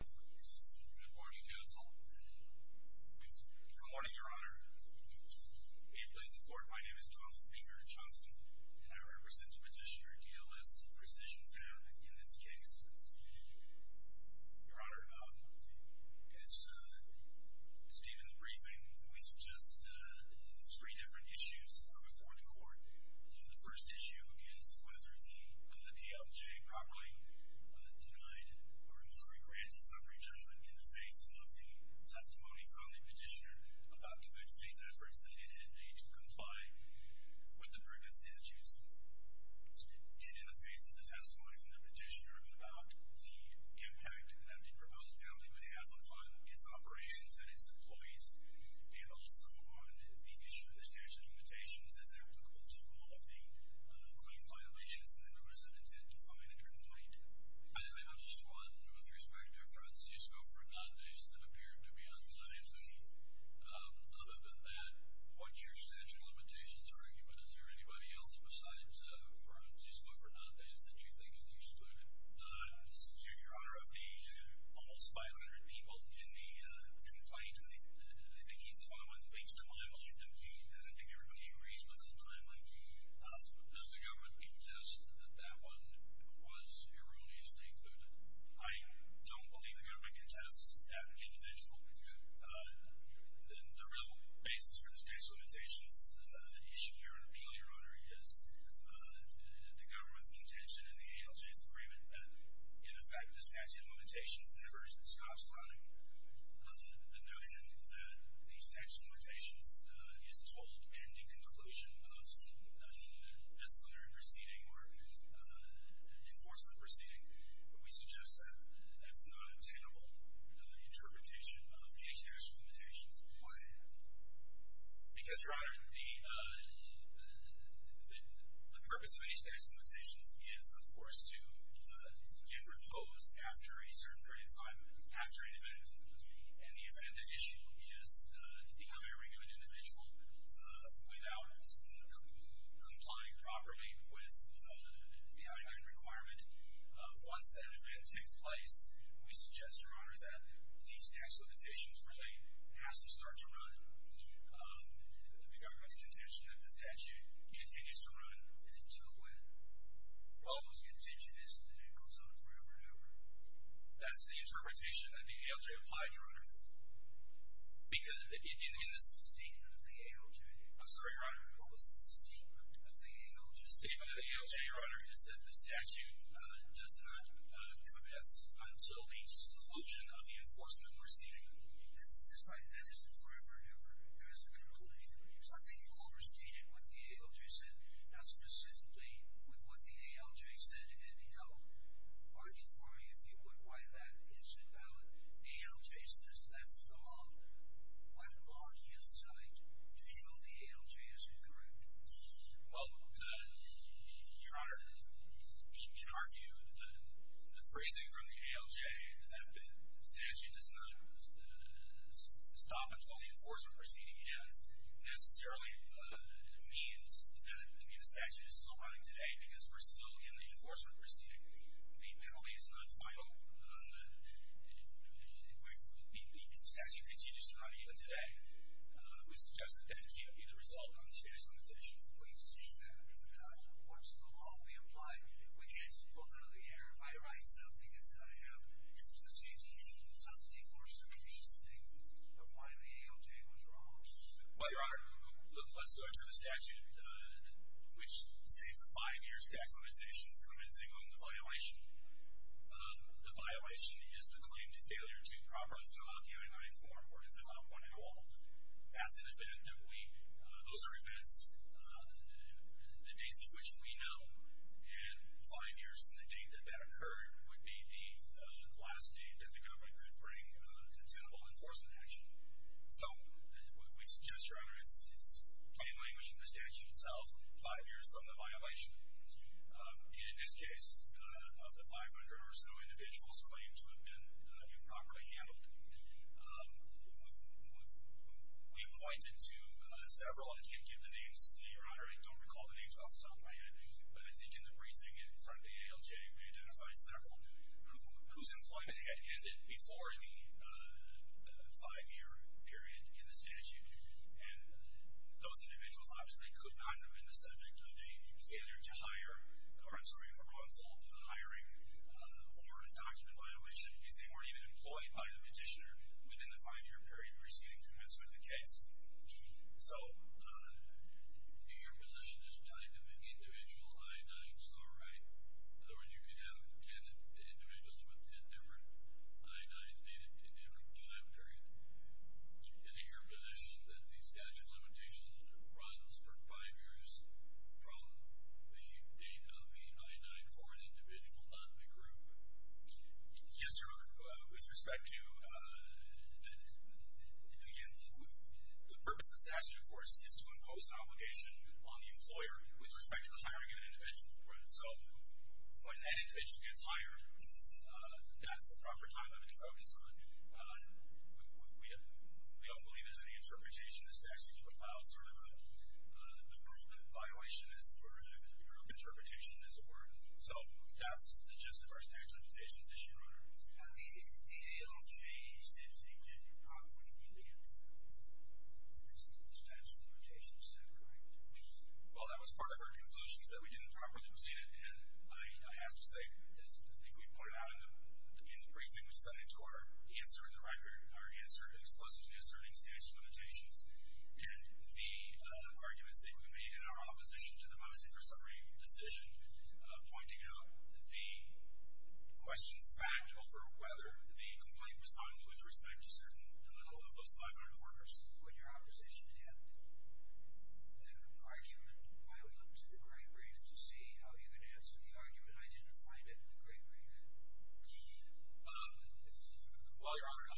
Good morning, counsel. Good morning, your honor. May it please the court, my name is Jonathan Baker Johnson and I represent the petitioner DLS Precision Fab in this case. Your honor, as stated in the briefing, we suggest three different issues before the court. The first issue is whether the ALJ properly denied or, I'm sorry, granted summary judgment in the face of the testimony from the petitioner about the good faith efforts that it had made to comply with the prerequisites. And in the face of the testimony from the petitioner about the impact that the proposed penalty would have on its operations and its employees and also on the statute of limitations as applicable to all of the claim violations in the notice of intent to file a complaint. I have just one with respect to Francisco Fernandez that appeared to be unscientific. Other than that, what's your statute of limitations argument? Is there anybody else besides Francisco Fernandez that you think is excluded? Your honor, of the almost 500 people in the complaint, I think he's the only one that makes the claim. I don't think everybody agrees with the claim. Does the government contest that that one was erroneously included? I don't believe the government contests that individual. The real basis for the statute of limitations issue here, and appeal your honor, is the government's contention in the ALJ's agreement that in effect statute of limitations never stops running. The notion that the statute of limitations is told and in conclusion of disciplinary proceeding or enforcement proceeding, we suggest that that's not an obtainable interpretation of any statute of limitations. Why? Because your honor, the after a certain period of time, after an event, and the event at issue is the declaring of an individual without complying properly with the I-9 requirement. Once that event takes place, we suggest your honor that these tax limitations really has to start to run. The government's contention that the statute continues to run until when? Well, those contention is that it goes on forever and ever. That's the interpretation that the ALJ implied, your honor? Because in the sustainment of the ALJ. I'm sorry, your honor. What was the sustainment of the ALJ? The sustainment of the ALJ, your honor, is that the statute does not come to pass until the solution of the enforcement proceeding. That's right. That is forever and ever. There is a conclusion. So I think you overstated what the ALJ said, not specifically with what the ALJ said anyhow. Argue for me, if you would, why that is invalid. The ALJ says that's the law. What law do you cite to show the ALJ is incorrect? Well, your honor, in our view, the phrasing from the ALJ that the statute does not stop until the enforcement proceeding ends necessarily means that the statute is still running today because we're still in the enforcement proceeding. The penalty is not final. The statute continues to run even today. We suggest that that can't be the result of the statutes limitations. We've seen that. What's the law we imply? We can't just go through the air. Your honor, if I write something, it's going to have to do with the CTE something or some of these things of why the ALJ was wrong. Well, your honor, let's go to the statute which states the five years tax limitations commencing on the violation. The violation is the claim to failure to properly fill out the I-9 form or to fill out one at all. That's an event that we, those are events the dates of which we know, and five years from the date that that occurred would be the last date that the government could bring a detainable enforcement action. So we suggest, your honor, it's plain language from the statute itself, five years from the violation. In this case, of the 500 or so individuals claimed to have been improperly handled, we have pointed to several, I can't give the names, your honor, I don't recall the names off the top of my head, but I think in the briefing in front of the ALJ, we identified several whose employment had ended before the five-year period in the statute. And those individuals obviously could not have been the subject of a failure to hire, or I'm sorry, a wrongful hiring or a document violation if they weren't even employed by the petitioner within the five-year period preceding commencement of the case. So, in your position, is time in the individual I-9s all right? In other words, you could have 10 individuals with 10 different I-9s dated in a different time period. In your position, that the statute of limitations runs for five years from the date of the I-9 for an individual, not the group? Yes, your, with respect to, again, the purpose of the statute, of course, is to impose an obligation on the employer with respect to hiring an individual. So, when that individual gets hired, that's the proper time limit to focus on. We don't believe there's any interpretation as to actually how sort of a group violation is, or a group interpretation, as it were. So, that's the gist of our statute of limitations this year, Your Honor. Now, the DALJ said that you didn't properly delegate the statute of limitations, is that correct? Well, that was part of our conclusion, is that we didn't properly delegate it. And I have to say, as I think we pointed out in the briefing we sent into our answer in the record, our explicit answer in the statute of limitations, and the arguments that we made in our opposition to the most intracereme decision, pointing out the questions, in fact, over whether the complaint was done with respect to a certain level of those 500 quarters. When your opposition had that argument, I would look to the Great Brief to see how you could answer the argument. I didn't find it in the Great Brief. Well, Your Honor,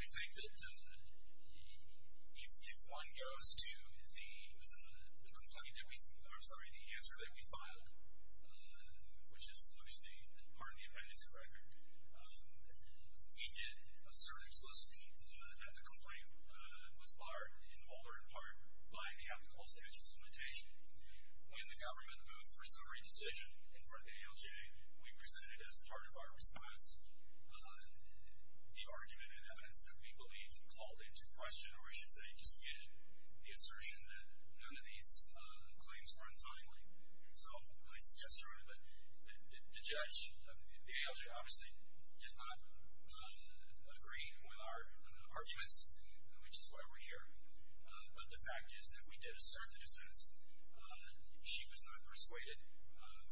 I think that if one goes to the answer that we filed, which is, obviously, part of the appendix of the record, we did assert explicitly that the complaint was barred in the Mulder, in part, by the applicable statute of limitations. When the government moved for a summary decision in front of the DALJ, we presented as part of our response the argument and evidence that we believe called into question, or I should say, disputed the assertion that none of these claims were untimely. So I suggest, Your Honor, that the judge, the DALJ, obviously, did not agree with our arguments, which is why we're here. But the fact is that we did assert the defense. She was not persuaded.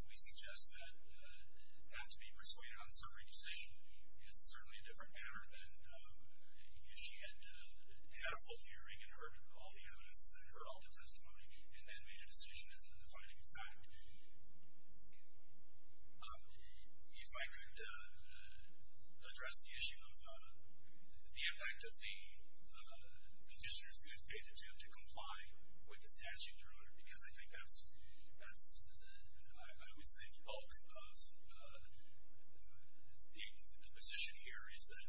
We suggest that not to be persuaded on a summary decision is certainly a different matter than if she had had a full hearing and heard all the evidence and heard all the testimony and then made a decision as a defining fact. If I could address the issue of the impact of the conditioner's goods data to comply with the statute, Your Honor, because I think that's, I would say, the bulk of the position here is that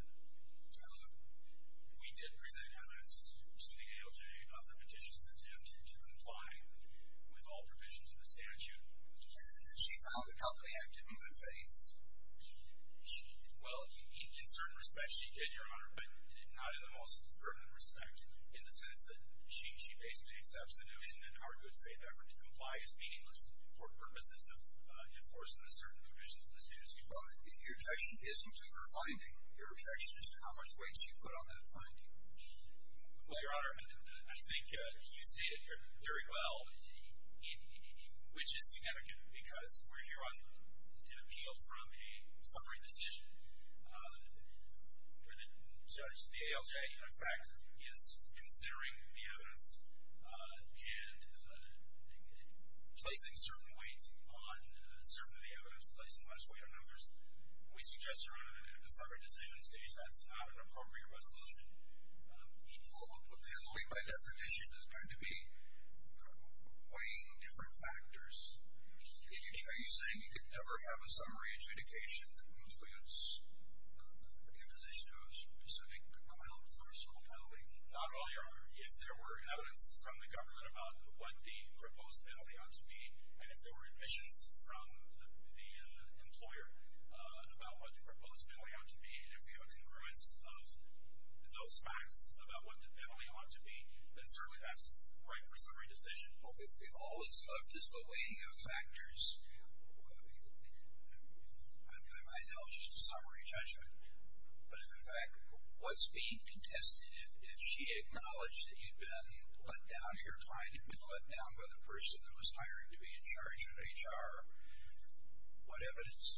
we did present evidence to the DALJ of the petition's attempt to comply with all provisions of the statute. And she found the company had good faith? Well, in certain respects, she did, Your Honor, but not in the most firm respect, in the sense that she basically accepts the notion that our good faith effort to comply is meaningless for purposes of enforcing the certain provisions of the statute as you find it. Your objection isn't to her finding. Your objection is to how much weight she put on that finding. Well, Your Honor, I think you stated very well which is significant, because we're here on an summary decision, and Judge DALJ, in fact, is considering the evidence and placing certain weight on certain of the evidence, placing less weight on others. We suggest, Your Honor, that at the summary decision stage, that's not an appropriate resolution. Equal to a family, by definition, is going to be weighing different factors. Are you saying you could never have a summary adjudication in the position of a specific client or sole family? Not only, Your Honor. If there were evidence from the government about what the proposed penalty ought to be, and if there were admissions from the employer about what the proposed penalty ought to be, and if we have a concurrence of those facts about what the penalty ought to be, then certainly that's right for summary decision. All that's left is the weighing of factors. I know it's just a summary judgment, but in fact, what's being contested if she acknowledged that you'd been let down, your client had been let down by the person that was hired to be in charge of HR, what evidence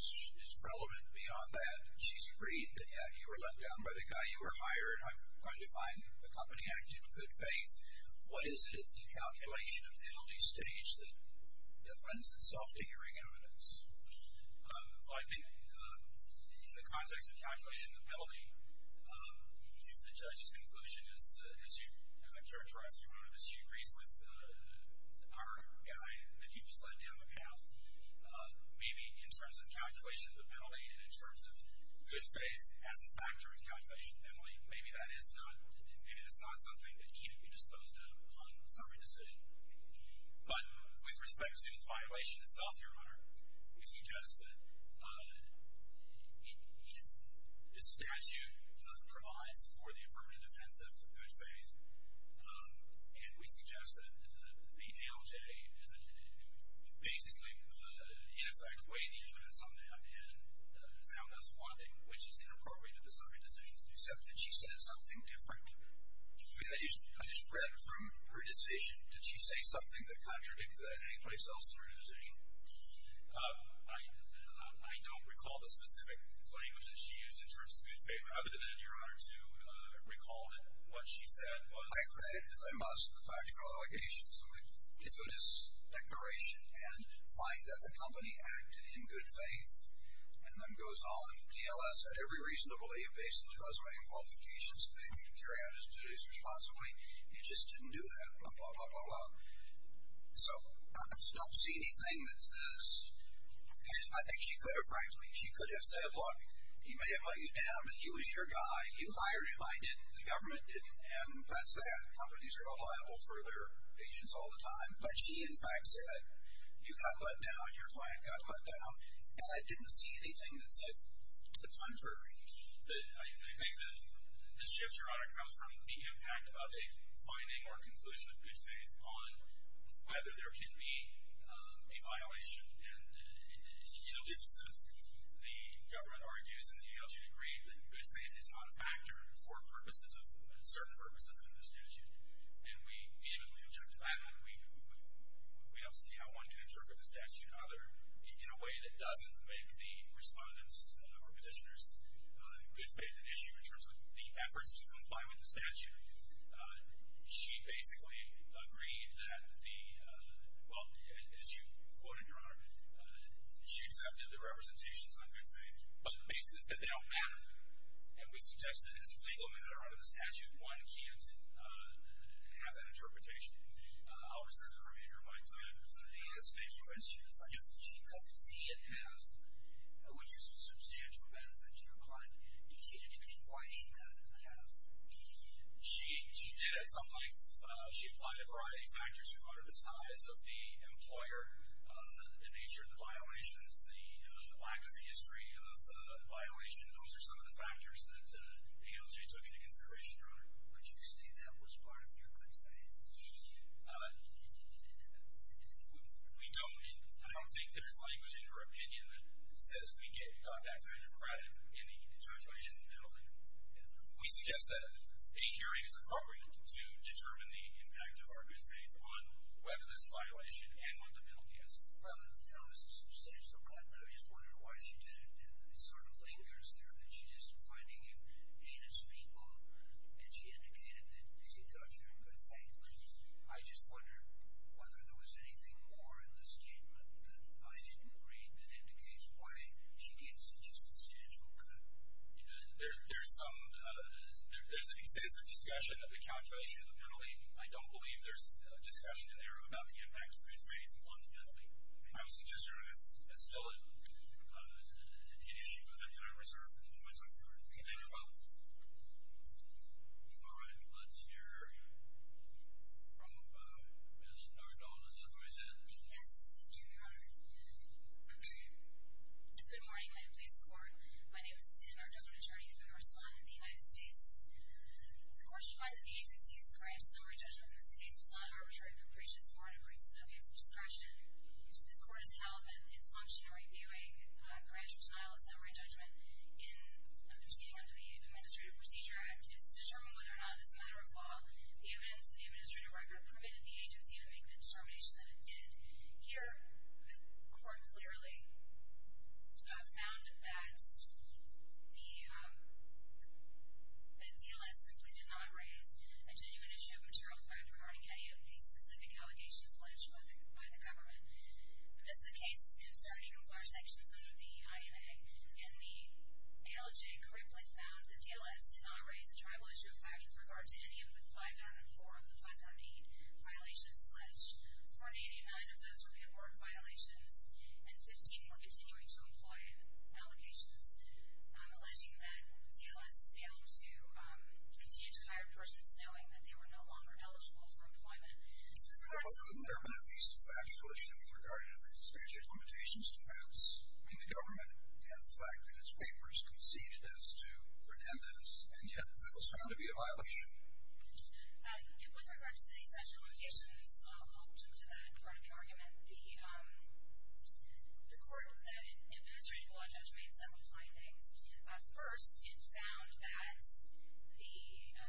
is relevant beyond that? She's agreed that you were let down by the guy you were hired, and I'm going to find the company acting in good faith. What is it in the calculation of the penalty stage that lends itself to hearing evidence? Well, I think in the context of calculation of the penalty, if the judge's conclusion is that, as you have characterized, Your Honor, that she agrees with our guy that he was let down on behalf, maybe in terms of calculation of the penalty and in terms of good faith as a factor of calculation of the penalty, maybe that is not, maybe that's not something that can't be disposed of on summary decision. But with respect to his violation itself, Your Honor, we suggest that this statute provides for the affirmative defense of good faith, and we suggest that the ALJ, who basically, in effect, weighed the evidence on that and found us wanting, which is inappropriate of the summary decision's deception, did she say something different? I mean, I just read from her decision. Did she say something that contradicted that in any place else in her decision? I don't recall the specific language that she used in terms of good faith, other than, Your Honor, to recall that what she said was. I credit, as I must, the factual allegation, so I give it as declaration and find that the company acted in good faith, and then goes on. DLS had every reason to be evasive to us by invalidification, so they could carry out its duties responsibly. It just didn't do that. Blah, blah, blah, blah, blah. So, I just don't see anything that says, and I think she could have, frankly, she could have said, look, he may have let you down, but he was your guy. You hired him. I didn't. The government didn't. And that's that. Companies are liable for their patients all the time. But she, in fact, said, you got let down. Your client got let down. And I didn't see anything that said the contrary. I think that this shift, Your Honor, comes from the impact of a finding or a conclusion of good faith on whether there could be a violation. And in a sense, the government argues in the ALG degree that good faith is not a factor for purposes of, certain purposes of an institution. And we vehemently interpret the statute in other, in a way that doesn't make the respondents or petitioners good faith an issue in terms of the efforts to comply with the statute. She basically agreed that the, well, as you quoted, Your Honor, she accepted the representations on good faith, but basically said they don't matter. And we suggest that as a legal matter under the statute, one can't have that interpretation. I'll reserve the remainder of my time. Let me ask a quick question. If I use, she got C and F, I would use a substantial benefit to your client. Did she indicate why she got an F? She, she did. It's not like, she applied a variety of factors. She quoted the size of the employer, the nature of the violations, the lack of a history of violation. Those are some of the factors that the ALG took into consideration, Your Honor. Would you say that was part of your client's decision? We don't, I don't think there's language in her opinion that says we get contact with a crime in the judgement of the building. We suggest that a hearing is appropriate to determine the impact of our good faith on whether this violation and what the penalty is. Well, Your Honor, this is substantial, but I just wondered why she did it. And it sort of lingers there that she's just finding it heinous people. And she indicated that she thought she could thank me. I just wondered whether there was anything more in the statement that I agreed that indicates why she gave such a substantial cut. There's some, there's an extensive discussion of the calculation of the penalty. I don't believe there's a discussion in there about the impact of anything on the penalty. I would suggest, Your Honor, that's still an issue that we're talking about. All right, let's hear from Ms. Nardone as a representative. Yes, thank you, Your Honor. Okay. Good morning, Miami Police Court. My name is Suzanne Nardone, attorney for the Marissa Lawn in the United States. The court should find that the agency is correct in summary judgment that this case was not arbitrary, but preaches foreign abuse and abuse of discretion. This court has held that it's functional in reviewing a grantor's denial of summary judgment in a proceeding under the Administrative Procedure Act is to determine whether or not, as a matter of law, the evidence in the administrative record permitted the agency to make the determination that it did. Here, the court clearly found that the DLS simply did not raise a genuine issue of material threat regarding any of the specific allegations by the government. This is a case concerning employer sanctions under the INA, and the ALJ correctly found that DLS did not raise a tribal issue of threat with regard to any of the 504 of the 508 violations alleged. 489 of those were paperwork violations, and 15 were continuing to employ allocations, alleging that DLS failed to continue to hire persons knowing that they were no longer eligible for employment. But wouldn't there have been at least a factual issue with regard to the essential limitations defense in the government and the fact that its papers conceded as to Fernandez, and yet that was found to be a violation? With regard to the essential limitations, I'll jump to that in front of the argument. The court that administrative law judge made several findings. First, it found that the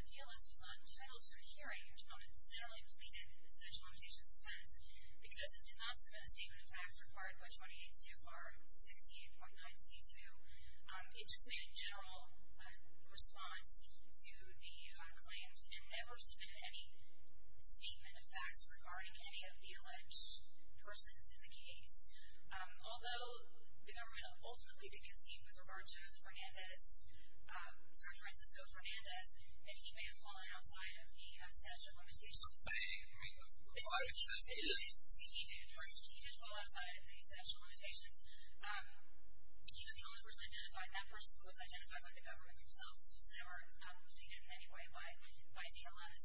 DLS was not entitled to a hearing on the generally pleaded essential limitations defense because it did not submit a statement of facts required by 28 CFR 68.9C2. It just made a general response to the claims and never submitted any statement of facts regarding any of the alleged persons in the case. Although the government ultimately did concede with regard to Fernandez, Judge Francisco Fernandez, that he may have fallen outside of the essential limitations. You're saying the client says he didn't? He did. He did fall outside of the essential limitations. He was the only person identified, that person who was identified by the government themselves, so they were not defeated in any way by DLS.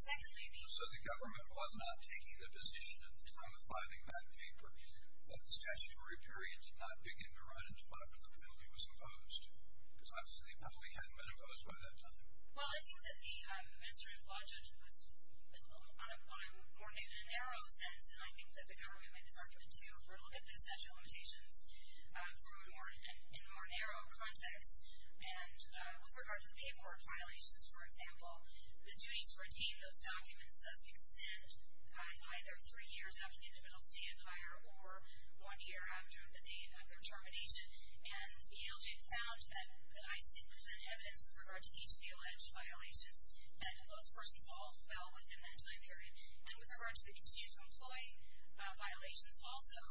Secondly, the... So the government was not taking the position in the room of finding that paper that the statutory period did not begin to run in defiance of the penalty that was imposed? Because obviously the public hadn't been imposed by that time. Well, I think that the administrative law judge was on a more narrow sense, and I think that the government made his argument, too, for a look at the essential limitations in a more narrow context. And with regard to the paperwork violations, for example, the duty to retain those documents doesn't extend either three years after the individual's stated or one year after the date of their termination. And the ALJ found that ICE did present evidence with regard to each of the alleged violations, and those persons all fell within that time period. And with regard to the continued to employ violations, also,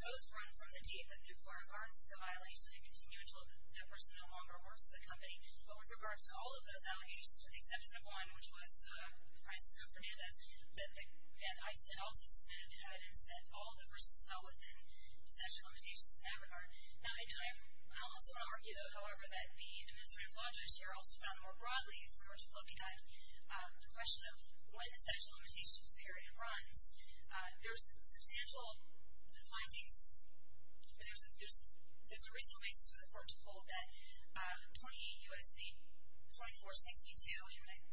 those run from the date that the employer guards the violation and continue until that person no longer works for the company. But with regard to all of those allegations, with the exception of one, which was the crisis for Fernandez, that ICE had also submitted evidence that all of the persons fell within the essential limitations of AVANAR. Now, I also want to argue, however, that the administrative law judge here also found more broadly, if we were to look at the question of when the essential limitations period runs, there's substantial findings. There's a reasonable basis for the court to hold that 28 U.S.C. 2462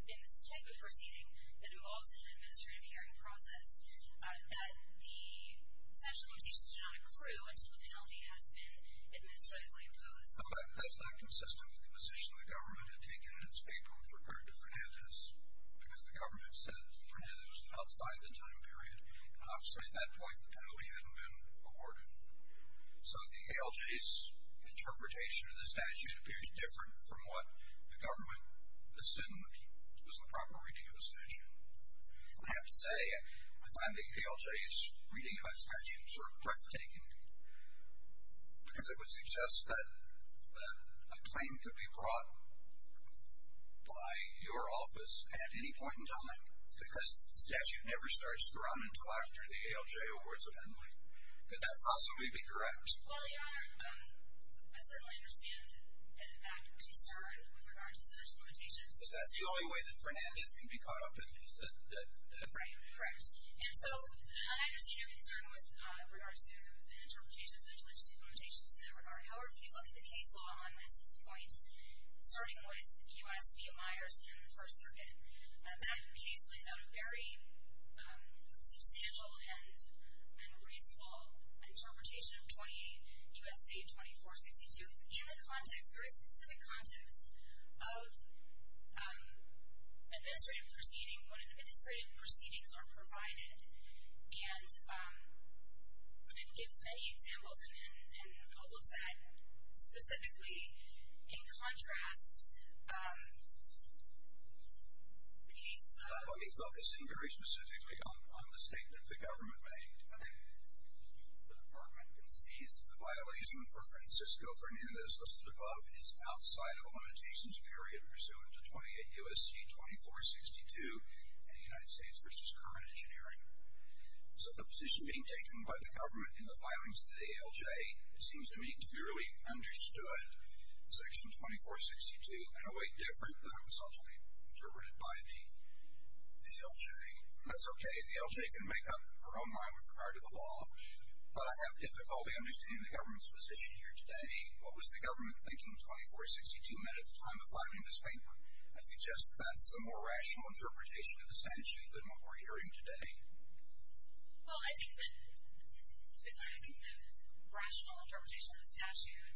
in this type of proceeding that involves an administrative hearing process, that the essential limitations do not accrue until the penalty has been administratively imposed. But that's not consistent with the position the government had taken in its paperwork with regard to Fernandez, because the government said that Fernandez was outside the time period. And obviously, at that point, the penalty hadn't been awarded. So the ALJ's interpretation of the statute appears different from what the government assumed was the proper reading of the statute. I have to say, I find the ALJ's reading of that statute sort of breathtaking, because it would suggest that a claim could be brought by your office at any point in time, because the statute never starts to run until after the ALJ awards a penalty. Could that possibly be correct? Well, Your Honor, I certainly understand that that concern with regard to the essential limitations. Because that's the only way that Fernandez can be caught up in this. Right, correct. And so, I understand your concern with regard to the interpretation of the essential limitations in that regard. However, if you look at the case law on this point, starting with U.S. v. Myers during the First Circuit, that case lays out a very substantial and reasonable interpretation of 28 U.S.C. 2462 in the context, very specific context, of administrative proceedings, when administrative proceedings are provided. And it gives many examples, and I'll look at, specifically, in contrast, the case law... The case law is very specific on the statement the government made. The department concedes the violation for Francisco Fernandez listed above is outside of a limitations period pursuant to 28 U.S.C. 2462 in the United States v. current engineering. So, the position being taken by the government in the filings to the ALJ seems to me to be really understood, Section 2462, in a way different than what's actually interpreted by the ALJ. And that's okay. The ALJ can make up her own mind with regard to the law. But I have difficulty understanding the government's position here today. What was the government thinking 2462 meant at the time of filing this paper? I suggest that that's a more rational interpretation of the statute than what we're hearing today. Well, I think that... I think the rational interpretation of the statute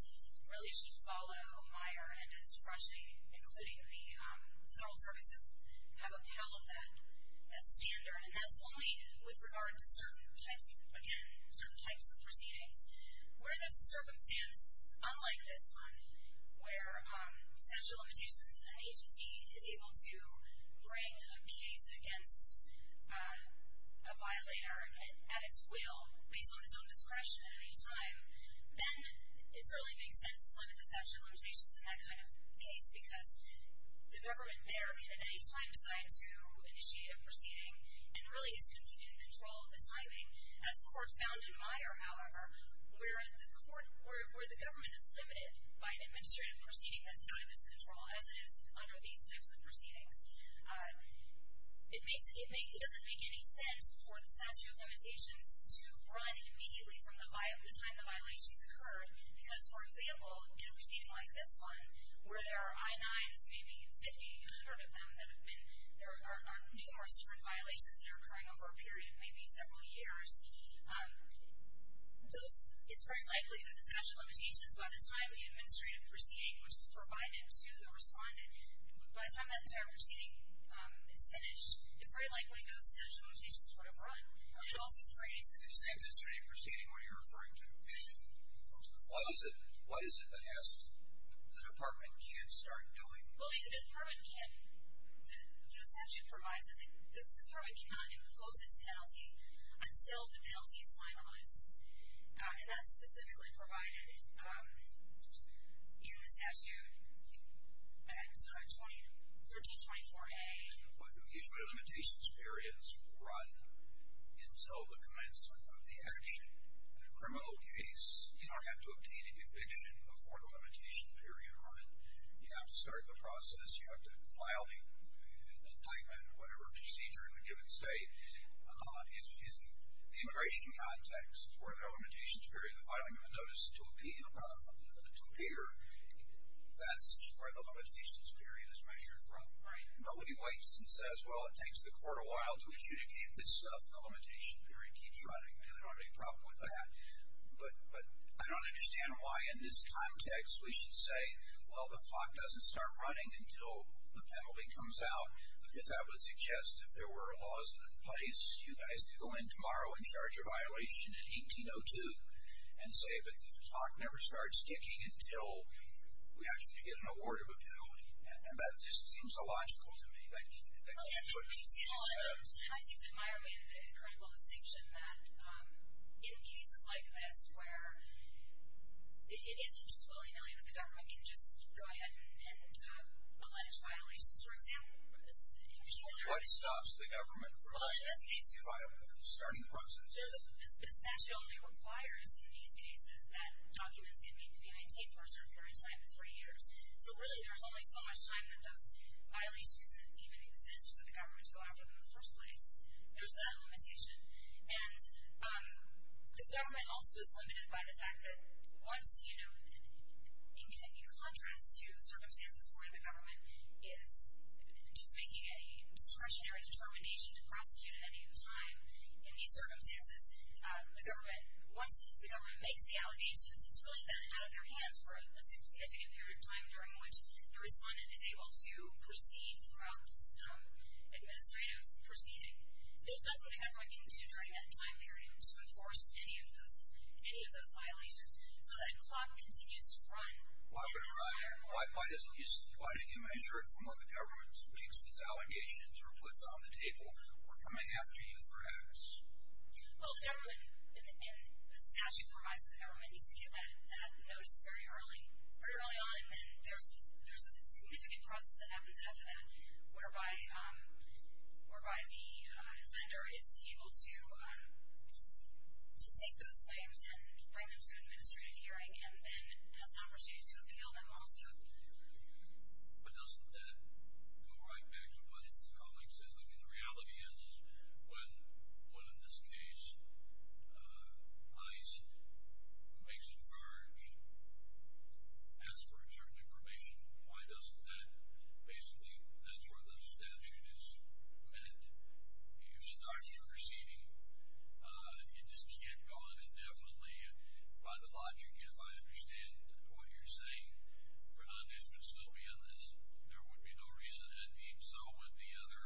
really should follow Meyer and his fraternity, including the General Services, have upheld that standard. And that's only with regard to certain types, again, certain types of proceedings, where there's a circumstance, unlike this one, where statute of limitations in an agency is able to bring a case against a violator at its will, based on its own discretion at any time, then it certainly makes sense to limit the statute of limitations in that kind of case, because the government there can at any time decide to initiate a proceeding and really is going to be in control of the timing. As the Court found in Meyer, however, where the government is limited by an administrative proceeding that's out of its control, as it is under these types of proceedings, it makes... it doesn't make any sense for the statute of limitations to run immediately from the time the violations occurred, because, for example, in a proceeding like this one, where there are I-9s, maybe 50, 100 of them, that have been... there are numerous different violations that are occurring over a period, maybe several years, those... it's very likely that the statute of limitations, by the time the administrative proceeding, which is provided to the respondent, by the time that the entire proceeding is finished, it's very likely that the statute of limitations would have run, but it also creates... In this administrative proceeding, what are you referring to? What is it that has... the Department can't start doing? Well, the Department can. The statute provides that the Department cannot impose its penalty until the penalty is finalized. And that's specifically provided in the statute, I think it's about 1324A. Well, usually limitations periods run until the commencement of the action. In a criminal case, you don't have to obtain a conviction before the limitation period run. You have to start the process, you have to file the indictment, whatever procedure in the given state. In the immigration context, where the limitations period, filing a notice to appear, that's where the limitations period is measured from. Nobody wakes and says, well, it takes the court a while to adjudicate this stuff, the limitation period keeps running. I don't have any problem with that. But I don't understand why, in this context, we should say, well, the clock doesn't start running until the penalty comes out. Because I would suggest, if there were laws in place, you guys could go in tomorrow and charge a violation in 1802 and say that the clock never starts ticking until we actually get an award of a penalty. And that just seems illogical to me. That can't put people in jail. I think that Myra made an incredible distinction that, in cases like this, where it isn't just alleged violations, for example, it's people that are... What stops the government from starting the process? This statute only requires, in these cases, that documents can be maintained for a certain period of time, three years. So really, there's only so much time that those violations that even exist for the government to go out for them in the first place. There's that limitation. And the government also is limited by the fact that once, you know, in contrast to circumstances where the government is just making a discretionary determination to prosecute at any time, in these circumstances, once the government makes the allegations, it's really then out of their hands for a significant period of time during which the respondent is able to proceed throughout this administrative proceeding. There's nothing the government can do during that time period to enforce any of those violations. So that clock continues to run. Why, but why, at least, why didn't you measure it from when the government speaks its allegations or puts it on the table, we're coming after you for acts? Well, the government, and the statute provides that the government needs to get that notice very early, very early on, and then there's a significant process that happens after that, and has an opportunity to appeal them also. But doesn't that go right back to what the colleague said? I mean, the reality is when, in this case, ICE makes a charge, as for certain information, why doesn't that basically, that's where the statute is when you start your proceeding, it just can't go on indefinitely. By the logic, if I understand what you're saying, Fernandez would still be on this, there would be no reason, and even so would the other,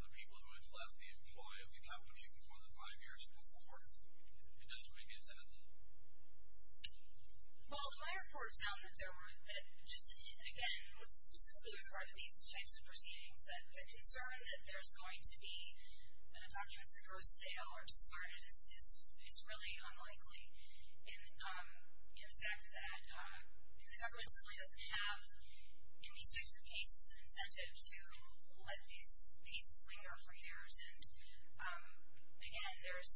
the people who had left the employ, if you have what you need more than five years before. It doesn't make any sense. Well, my report found that there were, that just, again, specifically with regard to these types of proceedings, that the concern that there's going to be, that a document's a gross sale or discarded is really unlikely, and the fact that the government simply doesn't have, in these types of cases, an incentive to let these cases linger for years, and again, there's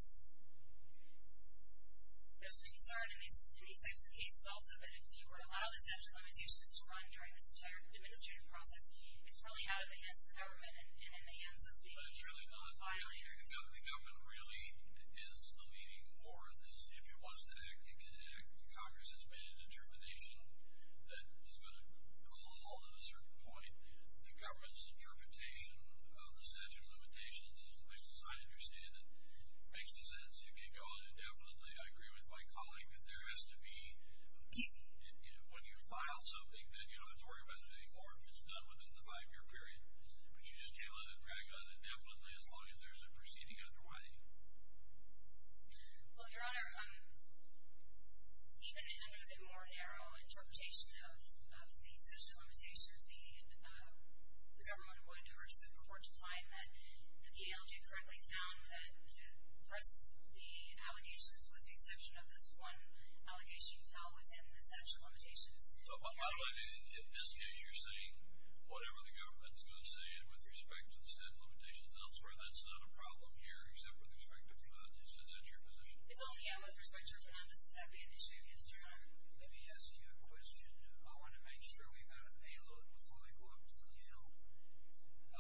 concern in these types of cases also that if you were to allow the statute limitations to run during this entire administrative process, it's really out of the hands of the government and in the hands of the filers. But it's really not, the government really is the leading or, if it wants to act, it can act, the Congress has made a determination that is going to hold at a certain point the government's interpretation of the statute of limitations, which as I understand it, makes no sense, you can't go on indefinitely, I agree with my colleague, that there has to be, when you file something, then you don't have to worry about it anymore, it's done within the five-year period, but you just can't let it drag on indefinitely as long as there's a proceeding underway. Well, Your Honor, even under the more narrow interpretation of the statute of limitations, the government would, or the court's claim that the ALJ currently found that the press, the allegations with the exception of this one allegation fell within the statute of limitations. So, how do I, in this case, you're saying whatever the government's going to say and with respect to the statute of limitations elsewhere, that's not a problem here except with respect to Fanon, is that your position? It's only I with respect to Fanon, this is not the issue, yes, Your Honor. Let me ask you a question, I want to make sure we've got a look before we go up to the Hill, if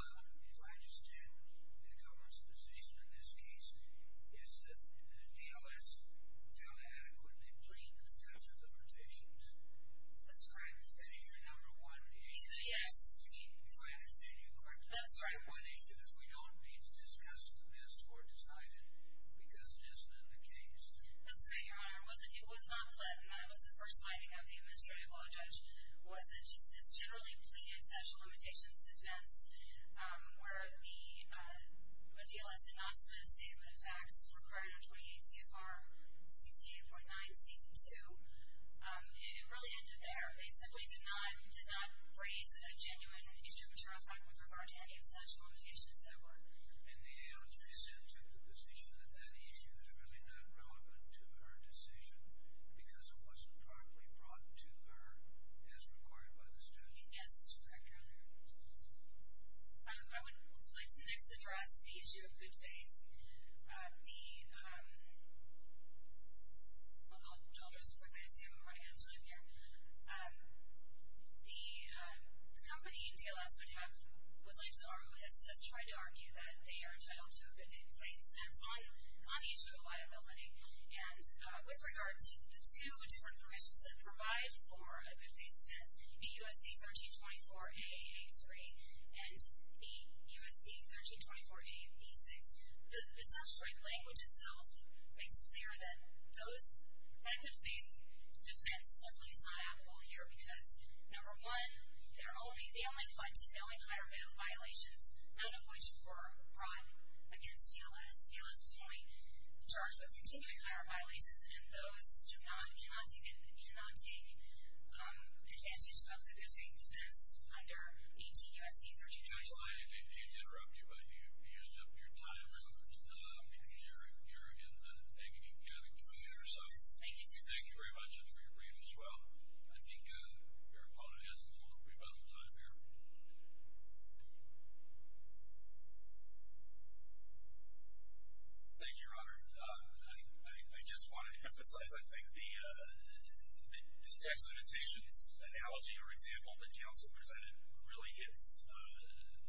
I understand the government's position in this case, is that the DLS found that it adequately breached the statute of limitations? That's correct. And is that your number one issue? Yes. If I understand you correctly, that's the number one issue, if we don't, it means that this has to be missed or decided because it isn't in the case. That's correct, Your Honor, it was not pled, and that was the first finding of the administrative law judge, was that this generally pleaded statute of limitations defense, where the DLS did not submit a statement of facts, it's required under 28 CFR, CT 8.9, CT 2, and it really ended there. They simply did not, did not raise a genuine issue of a true effect with regard to any of the statute of limitations that were. And the AO3 said to the position that that issue is really not relevant to her decision because it wasn't directly brought to her as required by the statute. Yes, that's correct, Your Honor. I would like to next address the issue of good faith. The, I'll just put this here while I have time here. The company DLS would have, would like to argue, has tried to argue that they are entitled to a good faith defense on the issue of liability. And with regard to the two different provisions that provide for a good faith defense, BUSC 1324A-A3 and BUSC 1324A-B6, the statutory language itself makes clear that those, that good faith defense simply is not applicable here because, number one, they're only, they only point to knowing higher value violations, none of which were brought against DLS. DLS was only charged with continuing higher violations, and those do not, cannot take, cannot take advantage of the good faith defense under ATSC 1324A. I didn't mean to interrupt you, but you used up your time. We're over to the, you're in the, you're in the community here, so. Thank you, Chief. Thank you very much, and for your brief as well. I think your opponent has a little brief other time here. Thank you, Your Honor. I, I, I just want to emphasize, I think, the, the, this tax limitations analogy or example that counsel presented really hits,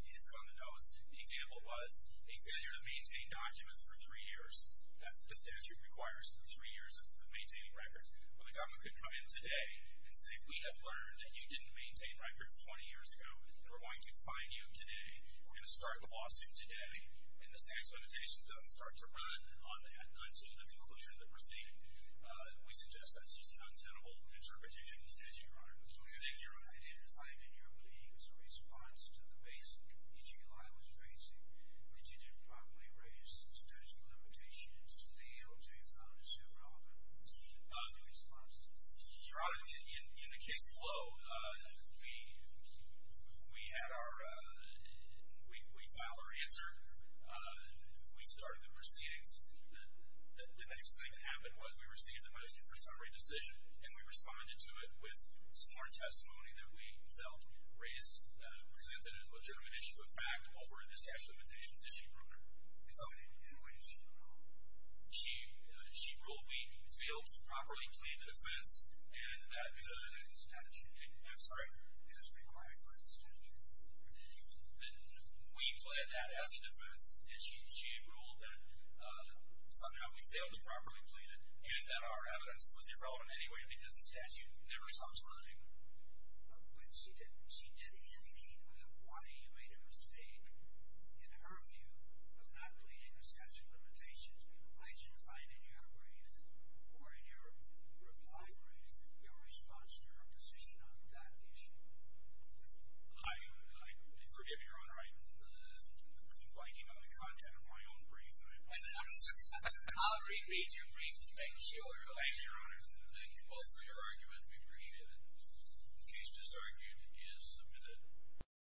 hits you on the nose. The example was a failure to maintain documents for three years. That's what the statute requires, three years of maintaining records. Well, the government could come in today and say, we have learned that you didn't maintain records 20 years ago, and we're going to fine you today. We're going to start the lawsuit today, and this tax limitation doesn't start to run on the, until the conclusion that we're seeing. We suggest that's just an untenable interpretation of the statute, Your Honor. Thank you. Thank you, Your Honor. I didn't find in your brief a response to the basic issue I was raising, that you didn't properly raise the statute of limitations. The ALJ found an issue relevant. What was your response to that? Your Honor, in, in, in the case below, we, we, we had our, we, we filed our answer. We started the proceedings. The, the next thing that happened was we received the medicine for summary decision, and we responded to it with sworn testimony that we felt raised, presented as a legitimate issue of fact over this tax limitations issue. So, and, and what did she rule? She, she ruled we failed to properly plead the defense, and that, Because of the statute. I'm sorry. It is required for the statute of limitations. Then we plead that as a defense, and she, she ruled that somehow we failed to properly plead it, and that our evidence was irrelevant anyway, because the statute never stops running. But she did, she did indicate we have one AMA mistake. In her view of not pleading the statute of limitations, I should find in your brief, or in your reply brief, your response to her position on that issue. I, I, forgive you, Your Honor, I, I'm biting on the content of my own brief. I, I'll read, read your brief to make sure. Thank you, Your Honor. Thank you both for your argument. We appreciate it. The case disargument is submitted.